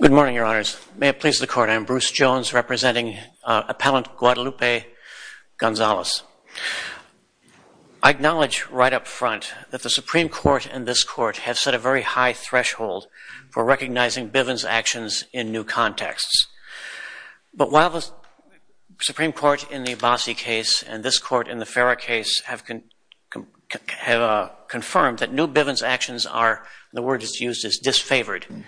Good morning, your honors. May it please the court, I am Bruce Jones, representing Appellant Guadalupe Gonzalez. I acknowledge right up front that the Supreme Court and this court have set a very high threshold for recognizing Bivens' actions in new contexts. But while the Supreme Court in the Abbasi case and this court in the Farrer case have confirmed that new Bivens' actions are, the word is used, is disfavored,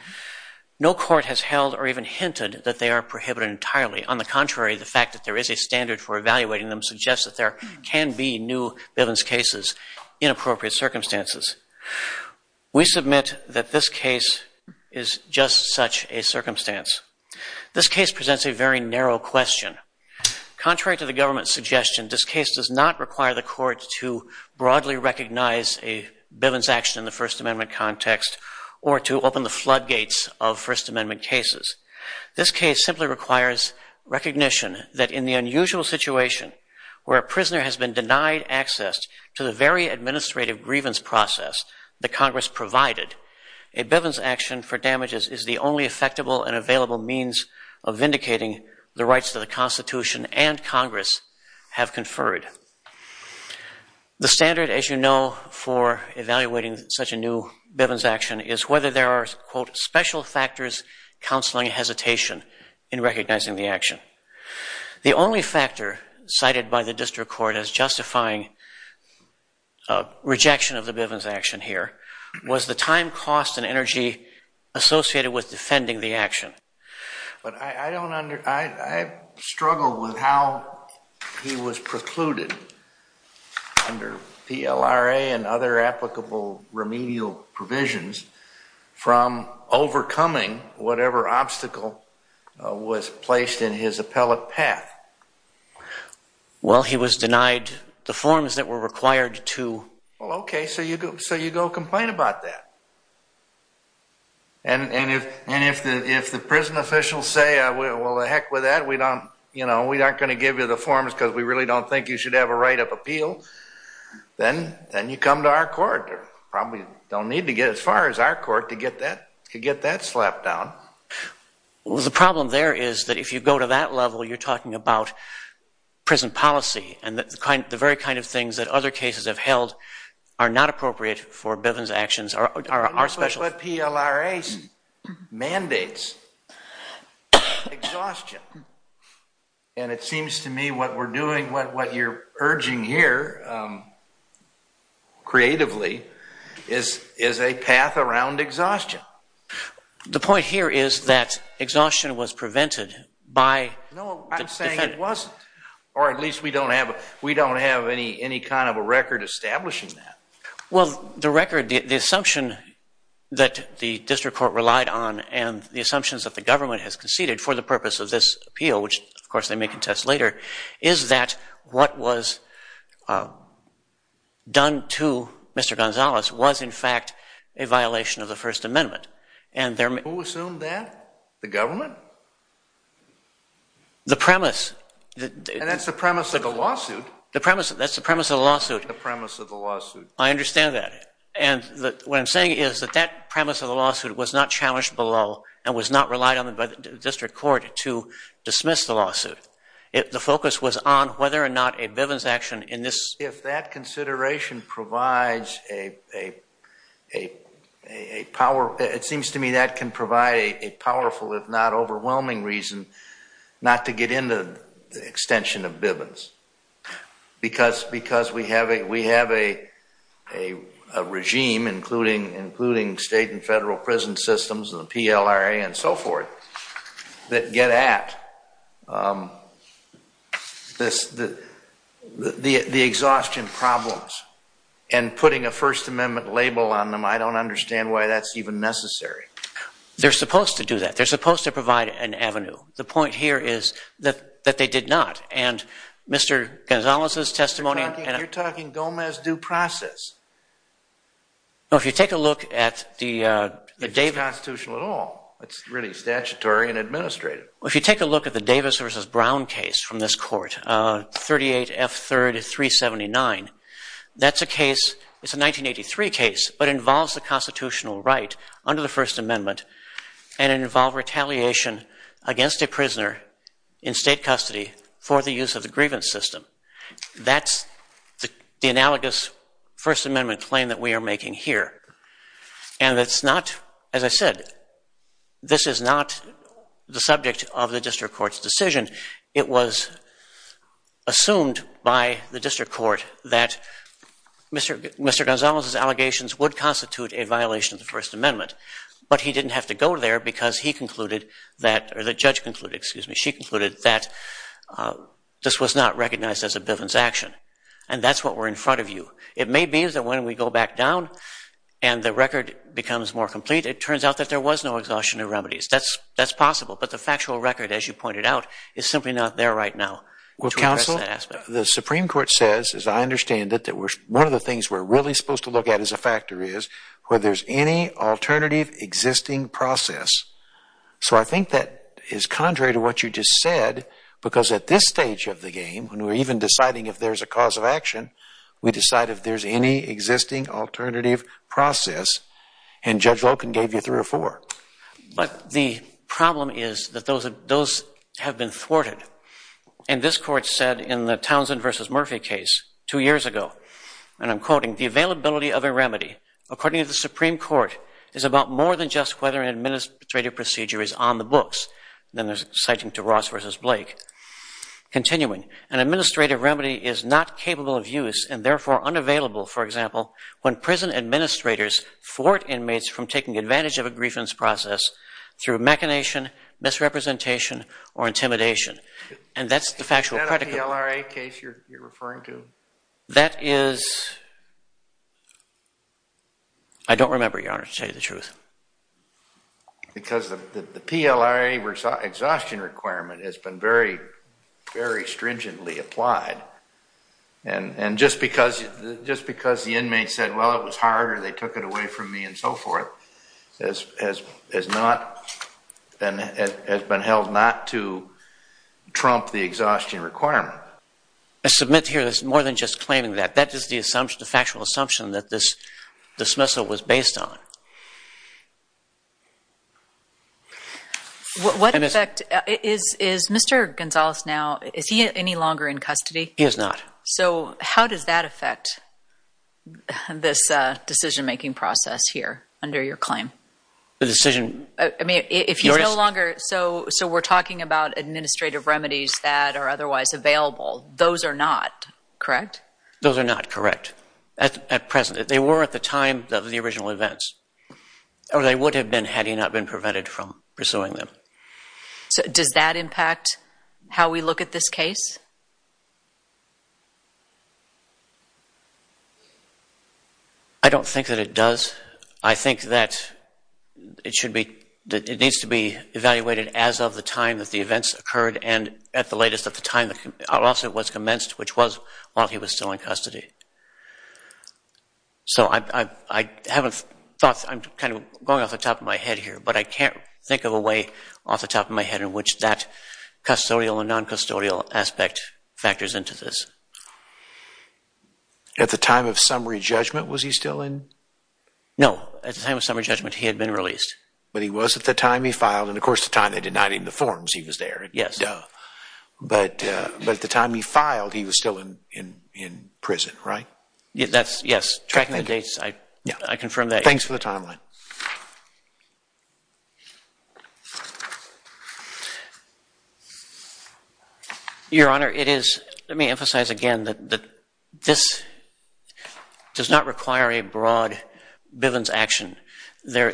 no court has held or even hinted that they are prohibited entirely. On the contrary, the fact that there is a standard for evaluating them suggests that there can be new Bivens' cases in appropriate circumstances. We submit that this case is just such a circumstance. This case presents a very narrow question. Contrary to the government's suggestion, this case does not require the court to broadly recognize a Bivens' action in the First Amendment context or to open the floodgates of First Amendment cases. This case simply requires recognition that in the unusual situation where a prisoner has been denied access to the very administrative grievance process that Congress provided, a Bivens' action for damages is the only effectible and available means of vindicating the rights that the Constitution and Congress have conferred. The standard, as you know, for evaluating such a new Bivens' action is whether there are, quote, special factors counseling hesitation in recognizing the action. The only factor cited by the district court as justifying rejection of the Bivens' action here was the time, cost, and energy associated with defending the action. But I struggle with how he was precluded under PLRA and other applicable remedial provisions from overcoming whatever obstacle was placed in his appellate path. Well, he was denied the forms that were required to... Well, OK, so you go complain about that. And if the prison officials say, well, to heck with that, we don't, you know, we aren't going to give you the forms because we really don't think you should have a write-up appeal, then you come to our court. You probably don't need to get as far as our court to get that slap down. The problem there is that if you go to that level, you're talking about prison policy and the very kind of things that other cases have held are not appropriate for Bivens' actions are special. But PLRA mandates exhaustion. And it seems to me what we're doing, what you're urging here creatively, is a path around exhaustion. The point here is that exhaustion was prevented by... No, I'm saying it wasn't. Or at least we don't have any kind of a record establishing that. Well, the record, the assumption that the district court relied on and the assumptions that the government has conceded for the purpose of this appeal, which, of course, they may contest later, is that what was done to Mr. Gonzalez was in fact a violation of the First Amendment. Who assumed that? The government? The premise. And that's the premise of the lawsuit. The premise. That's the premise of the lawsuit. The premise of the lawsuit. I understand that. And what I'm saying is that that premise of the lawsuit was not challenged below and was not relied on by the district court to dismiss the lawsuit. The focus was on whether or not a Bivens' action in this... If that consideration provides a power, it seems to me that can provide a powerful if not overwhelming reason not to get into the extension of Bivens. Because we have a regime, including state and federal prison systems and the PLRA and so forth, that get at the exhaustion problems. And putting a First Amendment label on them, I don't understand why that's even necessary. They're supposed to do that. They're supposed to provide an avenue. The point here is that they did not. And Mr. Gonzalez's testimony... You're talking Gomez due process. No, if you take a look at the Davis... It's not constitutional at all. It's really statutory and administrative. If you take a look at the Davis v. Brown case from this court, 38 F. 3rd 379, that's a case... It's a 1983 case, but it involves the constitutional right under the First Amendment and it involved retaliation against a prisoner in state custody for the use of the grievance system. That's the analogous First Amendment claim that we are making here. And it's not, as I said, this is not the subject of the district court's decision. It was assumed by the district court that Mr. Gonzalez's allegations would constitute a violation of the First Amendment. But he didn't have to go there because he concluded that... Or the judge concluded, excuse me, she concluded that this was not recognized as a bivence action. And that's what we're in front of you. It may be that when we go back down and the record becomes more complete, it turns out that there was no exhaustion of remedies. That's possible. But the factual record, as you pointed out, is simply not there right now. Well, counsel, the Supreme Court says, as I understand it, that one of the things we're really supposed to look at as a factor is whether there's any alternative existing process. So I think that is contrary to what you just said because at this stage of the game, when we're even deciding if there's a cause of action, we decide if there's any existing alternative process. And Judge Loken gave you three or four. But the problem is that those have been thwarted. And this court said in the Townsend versus Murphy case two years ago, and I'm quoting, the availability of a remedy, according to the Supreme Court, is about more than just whether an administrative procedure is on the books. Then there's citing to Ross versus Blake. Continuing, an administrative remedy is not capable of use and therefore unavailable, for example, when prison administrators thwart inmates from taking advantage of a grievance process through machination, misrepresentation, or intimidation. And that's the factual predicate. Is that a PLRA case you're referring to? That is, I don't remember, Your Honor, to tell you the truth. Because the PLRA exhaustion requirement has been very, very stringently applied. And just because the inmates said, well, it was hard or they took it away from me and so forth, has been held not to trump the exhaustion requirement. I submit here that it's more than just claiming that. That is the assumption, the factual assumption that this dismissal was based on. What effect, is Mr. Gonzalez now, is he any longer in custody? He is not. So how does that affect this decision-making process here under your claim? The decision. I mean, if he's no longer, so we're talking about administrative remedies that are otherwise available, those are not, correct? Those are not correct. At present, they were at the time of the original events. Or they would have been, had he not been prevented from pursuing them. So does that impact how we look at this case? I don't think that it does. I think that it should be, it needs to be evaluated as of the time that the events occurred and at the latest at the time the officer was commenced, which was while he was still in custody. So I haven't thought, I'm kind of going off the top of my head here, but I can't think of a way off the top of my head in which that custodial and non-custodial aspect factors into this. At the time of summary judgment, was he still in? No. At the time of summary judgment, he had been released. But he was at the time he filed, and of course, at the time they denied him the forms, he was there. Yes. But at the time he filed, he was still in prison, right? That's, yes. Tracking the dates, I confirm that. Thanks for the timeline. Your Honor, it is, let me emphasize again that this does not require a broad Bivens action. The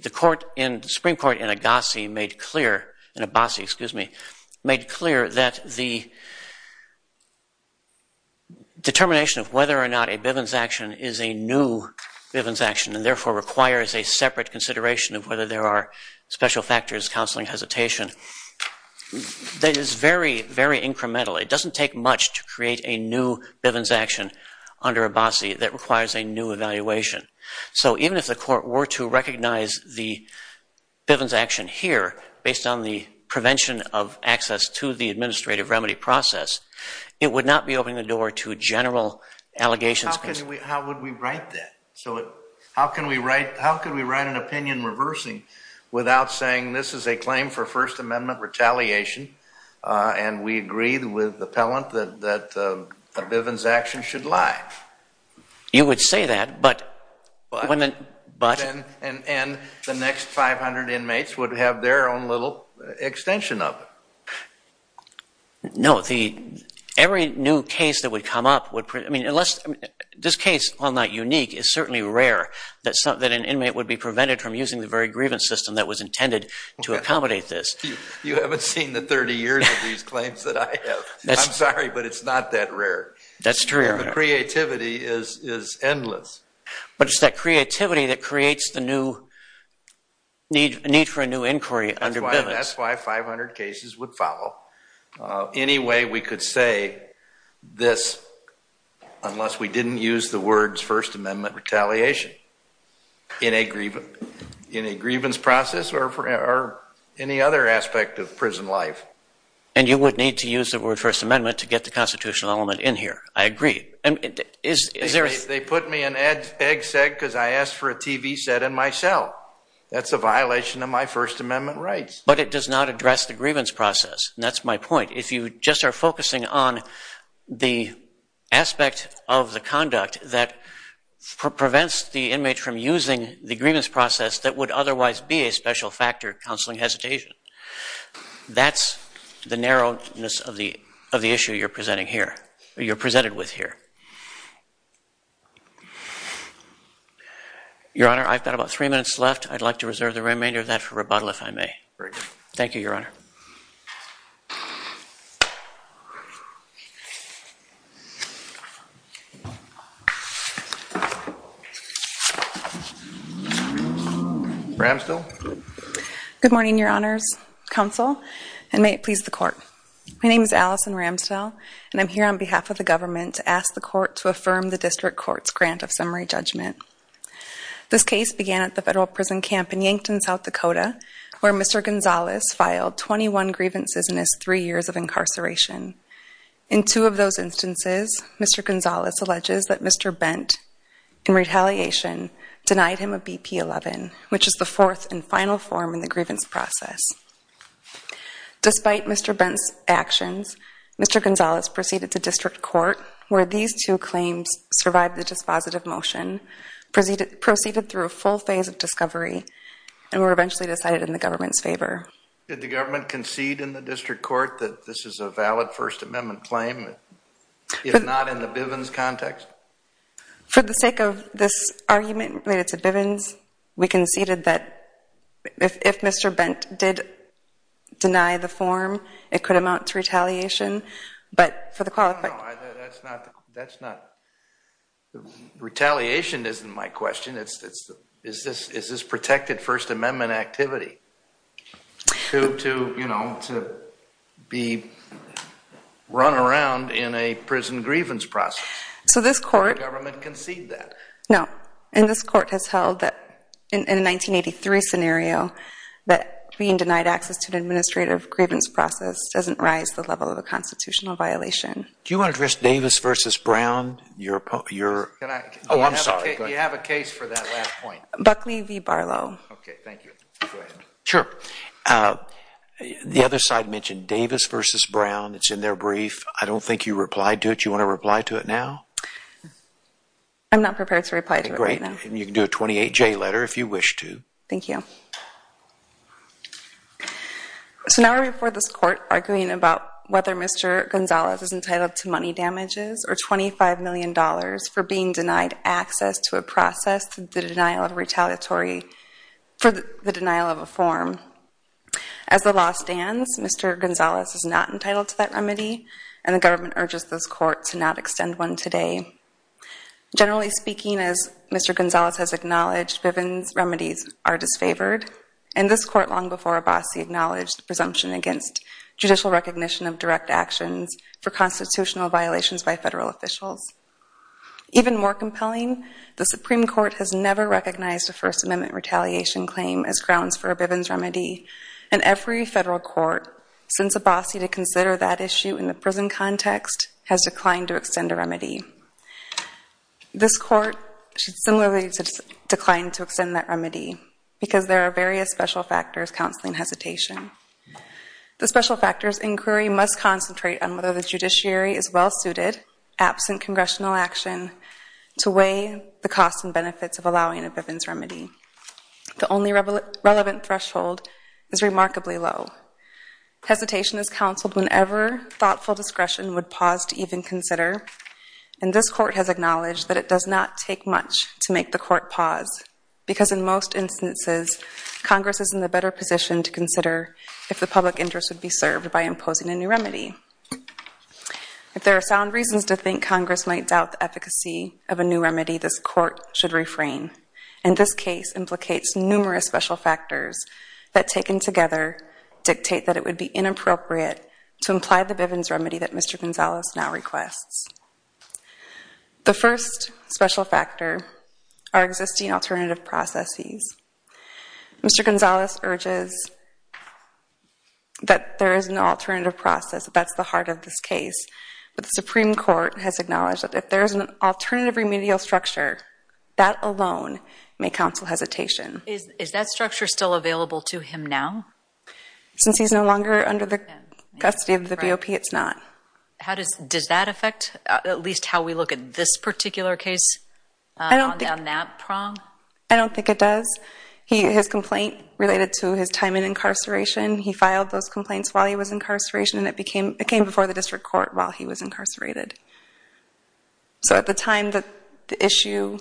Supreme Court in Agassi made clear, in Abassi, excuse me, made clear that the determination of whether or not a Bivens action is a new Bivens action and therefore requires a separate consideration of whether there are special factors, counseling, hesitation, that is very, very incremental. It doesn't take much to create a new Bivens action under Abassi that requires a new evaluation. So even if the court were to recognize the Bivens action here based on the prevention of access to the administrative remedy process, it would not be opening the door to general allegations. How could we, how would we write that? So how can we write, how could we write an opinion reversing without saying this is a claim for First Amendment retaliation and we agreed with the appellant that a Bivens action should lie? You would say that, but when the, but? And the next 500 inmates would have their own little extension of it. No, the, every new case that would come up would, I mean, unless, this case, while not unique, is certainly rare that an inmate would be prevented from using the very grievance system that was intended to accommodate this. You haven't seen the 30 years of these claims that I have. I'm sorry, but it's not that rare. That's true, Your Honor. Creativity is endless. But it's that creativity that creates the new need for a new inquiry under Bivens. That's why 500 cases would follow. Any way we could say this unless we didn't use the words First Amendment retaliation in a grievance process or any other aspect of prison life. And you would need to use the word First Amendment to get the constitutional element in here. I agree. And is there a? They put me in egg sack because I asked for a TV set in my cell. That's a violation of my First Amendment rights. But it does not address the grievance process. And that's my point. If you just are focusing on the aspect of the conduct that prevents the inmate from using the grievance process that would otherwise be a special factor, counseling hesitation, that's the narrowness of the issue you're presenting here. You're presented with here. Your Honor, I've got about three minutes left. I'd like to reserve the remainder of that for rebuttal if I may. Very good. Thank you, Your Honor. Ramsdell? Good morning, Your Honors, Counsel, and may it please the court. My name is Allison Ramsdell. And I'm here on behalf of the government to ask the court to affirm the district court's grant of summary judgment. This case began at the federal prison camp in Yankton, South Dakota, where Mr. Gonzalez filed 21 grievances and is three years of incarceration. In two of those instances, Mr. Gonzalez alleges that Mr. Bent, in retaliation, denied him a BP-11, which is the fourth and final form in the grievance process. Despite Mr. Bent's actions, Mr. Gonzalez proceeded to district court, where these two claims survived the dispositive motion, proceeded through a full phase of discovery, and were eventually decided in the government's favor. Did the government concede in the district court that this is a valid First Amendment claim, if not in the Bivens context? For the sake of this argument related to Bivens, we conceded that if Mr. Bent did deny the form, it could amount to retaliation. But for the qualification. That's not. Retaliation isn't my question. It's is this protected First Amendment activity to be run around in a prison grievance process? So this court. Did the government concede that? No. And this court has held that, in a 1983 scenario, that being denied access to an administrative grievance process doesn't rise the level of a constitutional violation. Do you want to address Davis versus Brown? Your opponent, your. Oh, I'm sorry. You have a case for that last point. Buckley v. Barlow. OK, thank you. Sure. The other side mentioned Davis versus Brown. It's in their brief. I don't think you replied to it. You want to reply to it now? I'm not prepared to reply to it right now. Great. And you can do a 28-J letter if you wish to. Thank you. So now we're before this court arguing about whether Mr. Gonzalez is entitled to money damages or $25 million for being denied access to a process for the denial of a form. As the law stands, Mr. Gonzalez is not entitled to that remedy, and the government urges this court to not extend one today. Generally speaking, as Mr. Gonzalez has acknowledged, Bivens remedies are disfavored. And this court long before Abbasi acknowledged the presumption against judicial recognition of direct actions for constitutional violations by federal officials. Even more compelling, the Supreme Court has never recognized a First Amendment retaliation claim as grounds for a Bivens remedy. And every federal court sends Abbasi to consider that issue in the prison context has declined to extend a remedy. This court should similarly decline to extend that remedy, because there are various special factors counseling hesitation. The special factors inquiry must concentrate on whether the judiciary is well-suited, absent congressional action, to weigh the costs and benefits of allowing a Bivens remedy. The only relevant threshold is remarkably low. Hesitation is counseled whenever thoughtful discretion would pause to even consider. And this court has acknowledged that it does not take much to make the court pause, because in most instances, Congress is in the better position to consider if the public interest would be served by imposing a new remedy. If there are sound reasons to think Congress might doubt the efficacy of a new remedy, this court should refrain. And this case implicates numerous special factors that taken together dictate that it would be inappropriate to imply the Bivens remedy that Mr. Gonzalez now requests. The first special factor are existing alternative processes. Mr. Gonzalez urges that there is an alternative process. That's the heart of this case. But the Supreme Court has acknowledged that if there is an alternative remedial structure, that alone may counsel hesitation. Is that structure still available to him now? Since he's no longer under the custody of the BOP, it's not. Does that affect at least how we look at this particular case on that prong? I don't think it does. His complaint related to his time in incarceration. He filed those complaints while he was in incarceration, and it came before the district court while he was incarcerated. So at the time, the issue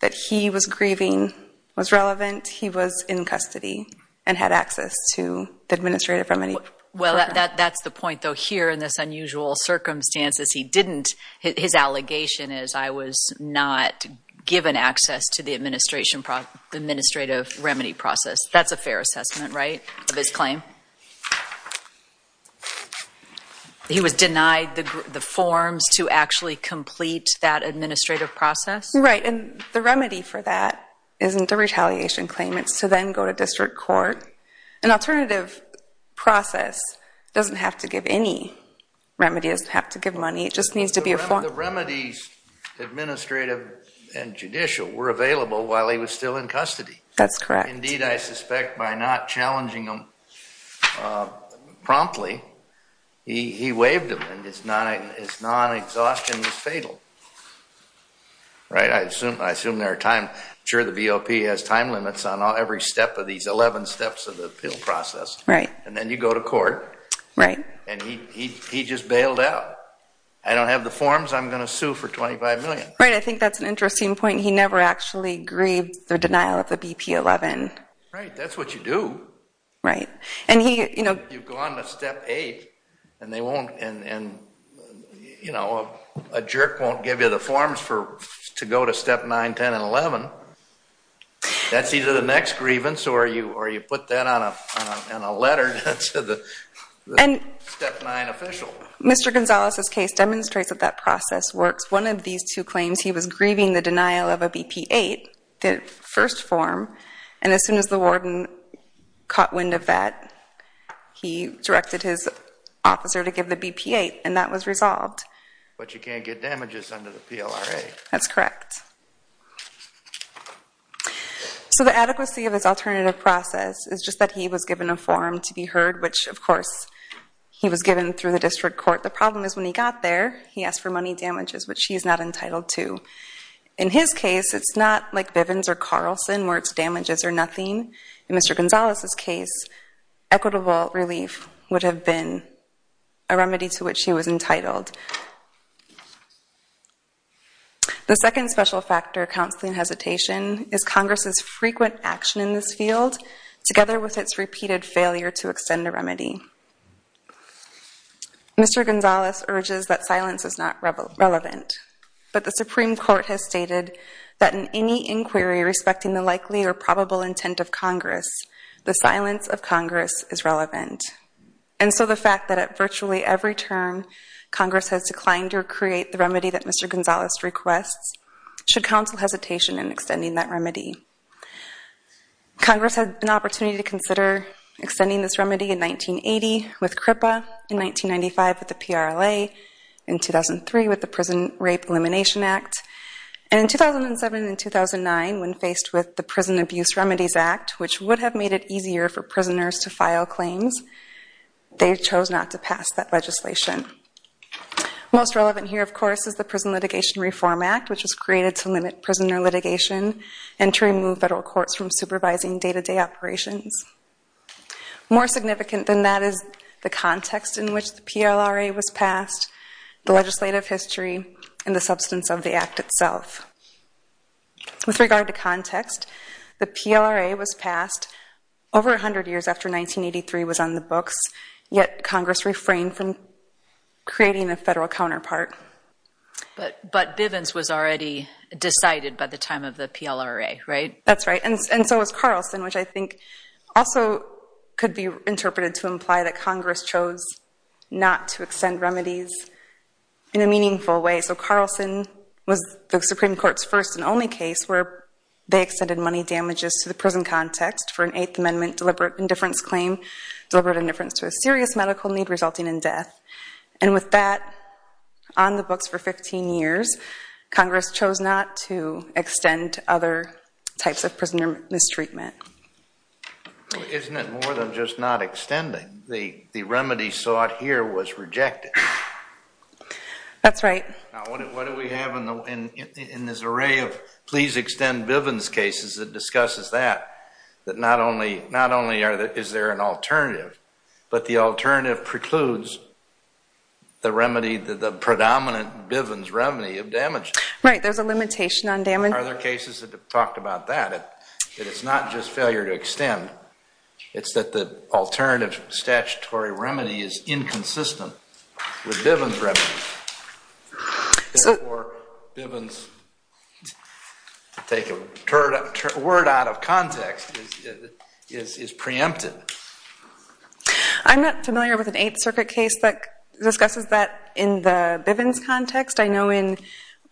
that he was grieving was relevant. He was in custody and had access to the administrative remedy. Well, that's the point, though. Here, in this unusual circumstances, he didn't. His allegation is, I was not given access to the administrative remedy process. That's a fair assessment, right, of his claim? He was denied the forms to actually complete that administrative process? Right, and the remedy for that isn't a retaliation claim. It's to then go to district court. An alternative process doesn't have to give any remedies, doesn't have to give money. It just needs to be a form. The remedies, administrative and judicial, were available while he was still in custody. That's correct. Indeed, I suspect, by not challenging him promptly, he waived them, and his non-exhaustion was fatal. Right? I assume there are time. Sure, the VOP has time limits on every step of these 11 steps of the appeal process. And then you go to court, and he just bailed out. I don't have the forms. I'm going to sue for $25 million. Right, I think that's an interesting point. He never actually grieved the denial of the BP-11. Right, that's what you do. Right, and he, you know. You go on to step eight, and they won't, and a jerk won't give you the forms to go to step nine, 10, and 11. That's either the next grievance, or you put that on a letter to the step nine official. Mr. Gonzalez's case demonstrates that that process works. One of these two claims, he was grieving the denial of a BP-8, the first form. And as soon as the warden caught wind of that, he directed his officer to give the BP-8. And that was resolved. But you can't get damages under the PLRA. That's correct. So the adequacy of this alternative process is just that he was given a form to be heard, which, of course, he was given through the district court. The problem is, when he got there, he asked for money damages, which he is not entitled to. In his case, it's not like Bivens or Carlson, where it's damages or nothing. In Mr. Gonzalez's case, equitable relief would have been a remedy to which he was entitled. The second special factor of counseling hesitation is Congress's frequent action in this field, together with its repeated failure to extend a remedy. Mr. Gonzalez urges that silence is not relevant. But the Supreme Court has stated that in any inquiry respecting the likely or probable intent of Congress, the silence of Congress is relevant. And so the fact that at virtually every term, Congress has declined to create the remedy that Mr. Gonzalez requests should counsel hesitation in extending that remedy. Congress had an opportunity to consider extending this remedy in 1980 with CRIPA, in 1995 with the PRLA, in 2003 with the Prison Rape Elimination Act, and in 2007 and 2009, when faced with the Prison Abuse Remedies Act, which would have made it easier for prisoners to file claims, they chose not to pass that legislation. Most relevant here, of course, is the Prison Litigation Reform Act, which was created to limit prisoner litigation and to remove federal courts from supervising day-to-day operations. More significant than that is the context in which the PLRA was passed, the legislative history, and the substance of the act itself. With regard to context, the PLRA was passed over 100 years after 1983 was on the books, yet Congress refrained from creating a federal counterpart. But Bivens was already decided by the time of the PLRA, right? That's right. And so was Carlson, which I think also could be interpreted to imply that Congress chose not to extend remedies in a meaningful way. So Carlson was the Supreme Court's first and only case where they extended money damages to the prison context for an Eighth Amendment deliberate indifference claim, deliberate indifference to a serious medical need resulting in death. And with that on the books for 15 years, Congress chose not to extend other types of prisoner mistreatment. Isn't it more than just not extending? The remedy sought here was rejected. That's right. What do we have in this array of please extend Bivens cases that discusses that? That not only is there an alternative, but the alternative precludes the remedy that the predominant Bivens remedy of damage. Right. There's a limitation on damage. Are there cases that have talked about that? That it's not just failure to extend. It's that the alternative statutory remedy is inconsistent with Bivens remedy. So Bivens, to take a word out of context, is preempted. I'm not familiar with an Eighth Circuit case that discusses that in the Bivens context. I know in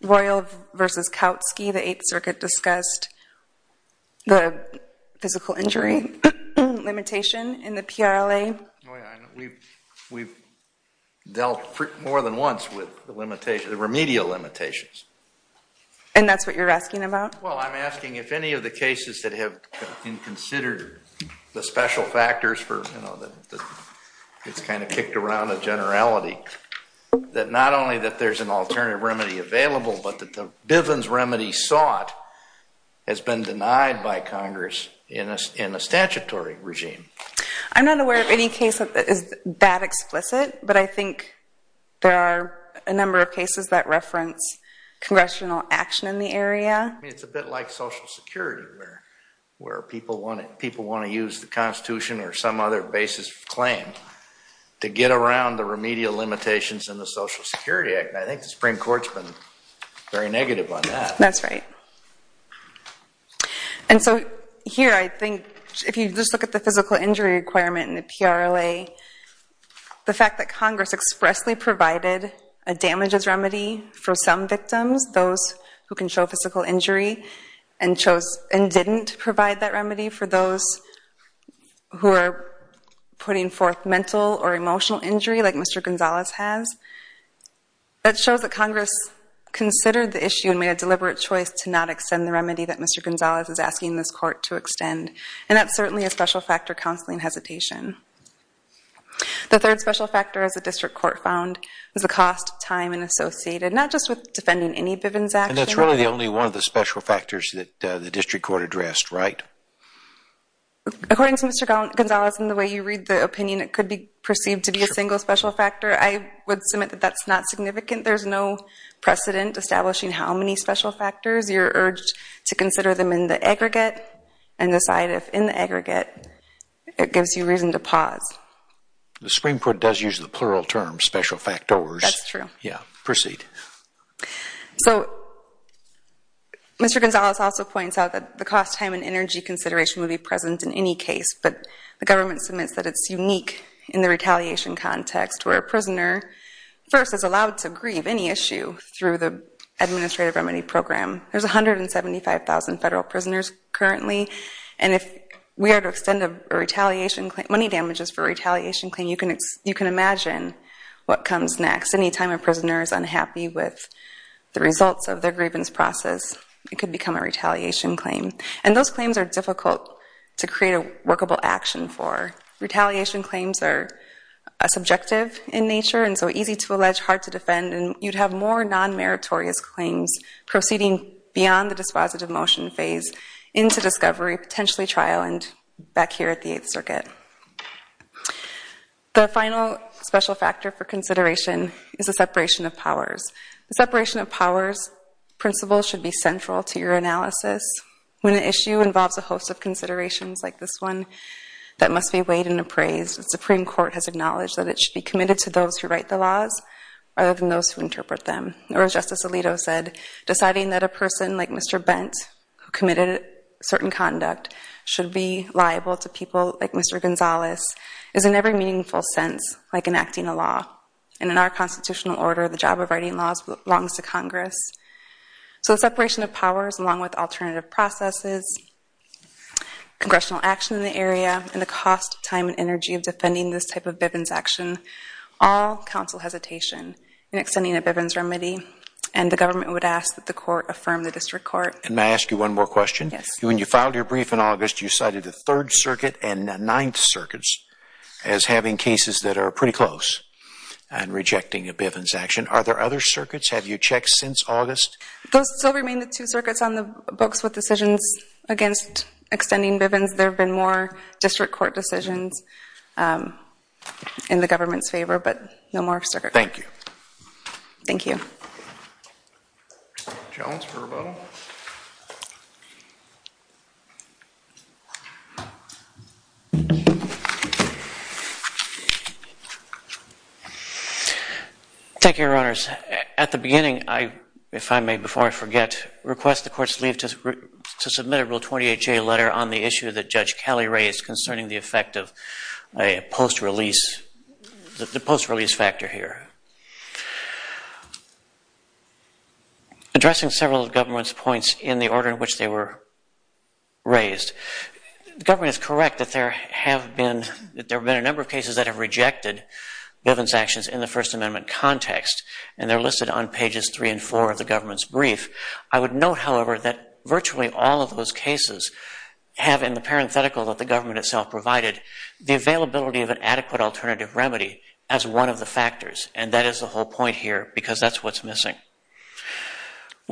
Royal versus Kautsky, the Eighth Circuit discussed the physical injury limitation in the PRLA. We've dealt more than once with the remedial limitations. And that's what you're asking about? Well, I'm asking if any of the cases that have been considered the special factors for it's kind of kicked around a generality, that not only that there's an alternative remedy available, but that the Bivens remedy sought has been denied by Congress in a statutory regime. I'm not aware of any case that is that explicit, but I think there are a number of cases that reference congressional action in the area. It's a bit like Social Security, where people want to use the Constitution or some other basis of claim to get around the remedial limitations in the Social Security Act. I think the Supreme Court's been very negative on that. That's right. And so here, I think, if you just look at the physical injury requirement in the PRLA, the fact that Congress expressly provided a damages remedy for some victims, those who can show physical injury, and didn't provide that remedy for those who are putting forth mental or emotional injury, like Mr. Gonzalez has, that shows that Congress considered the issue and made a deliberate choice to not extend the remedy that Mr. Gonzalez is asking this court to extend. And that's certainly a special factor counseling hesitation. The third special factor, as the district court found, was the cost, time, and associated, not just with defending any Bivens action. And that's really the only one of the special factors that the district court addressed, right? According to Mr. Gonzalez, in the way you read the opinion, it could be a special factor. I would submit that that's not significant. There's no precedent establishing how many special factors. You're urged to consider them in the aggregate and decide if, in the aggregate, it gives you reason to pause. The Supreme Court does use the plural term, special factors. That's true. Yeah, proceed. So Mr. Gonzalez also points out that the cost, time, and energy consideration would be present in any case. But the government submits that it's in a context where a prisoner, first, is allowed to grieve any issue through the administrative remedy program. There's 175,000 federal prisoners currently. And if we are to extend money damages for a retaliation claim, you can imagine what comes next. Any time a prisoner is unhappy with the results of their grievance process, it could become a retaliation claim. And those claims are difficult to create a workable action for. Retaliation claims are subjective in nature and so easy to allege, hard to defend. And you'd have more non-meritorious claims proceeding beyond the dispositive motion phase into discovery, potentially trial, and back here at the Eighth Circuit. The final special factor for consideration is the separation of powers. The separation of powers principle should be central to your analysis. When an issue involves a host of considerations like this one that must be weighed and appraised, the Supreme Court has acknowledged that it should be committed to those who write the laws, rather than those who interpret them. Or as Justice Alito said, deciding that a person like Mr. Bent, who committed certain conduct, should be liable to people like Mr. Gonzales, is in every meaningful sense like enacting a law. And in our constitutional order, the job of writing laws belongs to Congress. So the separation of powers, along with alternative processes, congressional action in the area, and the cost, time, and energy of defending this type of Bivens action, all counsel hesitation in extending a Bivens remedy. And the government would ask that the court affirm the district court. And may I ask you one more question? Yes. When you filed your brief in August, you cited the Third Circuit and the Ninth Circuits as having cases that are pretty close and rejecting a Bivens action. Are there other circuits? Have you checked since August? Those still remain the two circuits on the books with decisions against extending Bivens. There have been more district court decisions in the government's favor, but no more circuit. Thank you. Thank you. Jones for rebuttal. Thank you, Your Honors. At the beginning, if I may, before I forget, request the courts leave to submit a Rule 28J letter on the issue that Judge Kelly raised concerning the effect of the post-release factor here. Addressing several of the government's points in the order in which they were raised, the government is correct that there have been a number of cases that have rejected Bivens actions in the First Amendment context. And they're listed on pages three and four of the government's brief. I would note, however, that virtually all of those cases have, in the parenthetical that the government itself provided, the availability of an adequate alternative remedy as one of the factors. And that is the whole point here, because that's what's missing.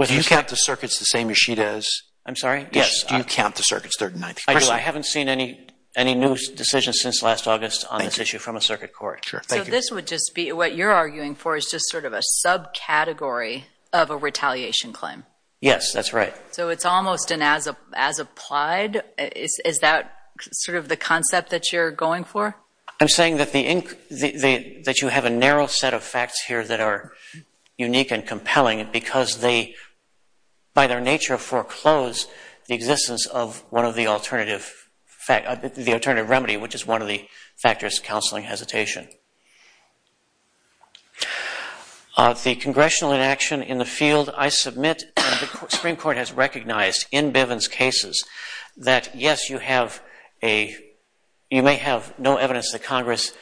Do you count the circuits the same as she does? I'm sorry? Yes. Do you count the circuits third and ninth? I do. I haven't seen any new decisions since last August on this issue from a circuit court. So this would just be what you're arguing for is just sort of a subcategory of a retaliation claim? Yes, that's right. So it's almost an as-applied? Is that sort of the concept that you're going for? I'm saying that you have a narrow set of facts here that are unique and compelling, because they, by their nature, foreclose the existence of one of the alternative remedy, which is one of the factors, counseling hesitation. The congressional inaction in the field, I submit, and the Supreme Court has recognized in Bivens cases that, yes, you may have no evidence that Congress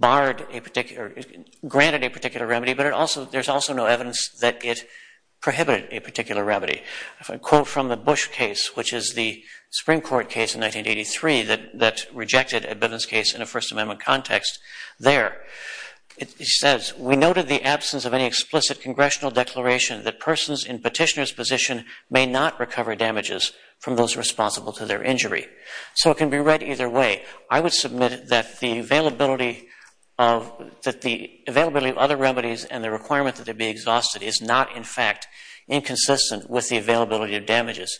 granted a particular remedy, but there's also no evidence that it prohibited a particular remedy. If I quote from the Bush case, which is the Supreme Court case in 1983 that rejected a Bivens case in a First Amendment context there, it says, we noted the absence of any explicit congressional declaration that persons in petitioner's position may not recover damages from those responsible to their injury. So it can be read either way. I would submit that the availability of other remedies and the requirement to be exhausted is not, in fact, inconsistent with the availability of damages.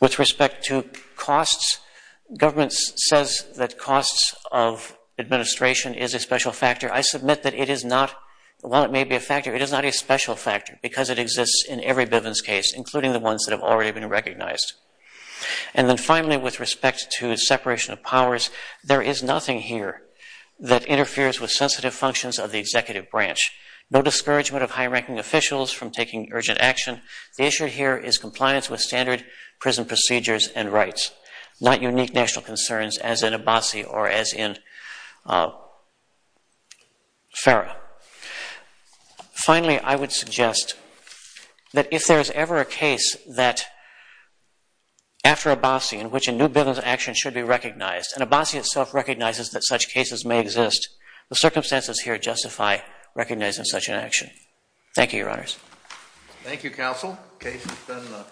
With respect to costs, government says that costs of administration is a special factor. I submit that while it may be a factor, it is not a special factor because it exists in every Bivens case, including the ones that have already been recognized. And then finally, with respect to separation of powers, there is nothing here that interferes with sensitive functions of the executive branch. No discouragement of high-ranking officials from taking urgent action. The issue here is compliance with standard prison procedures and rights, not unique national concerns as in Abassi or as in FARA. Finally, I would suggest that if there is ever a case that, after Abassi, in which a new Bivens action should be recognized, and Abassi itself recognizes that such cases may exist, the circumstances here justify recognizing such an action. Thank you, Your Honors. Thank you, Counsel. Case is done and done.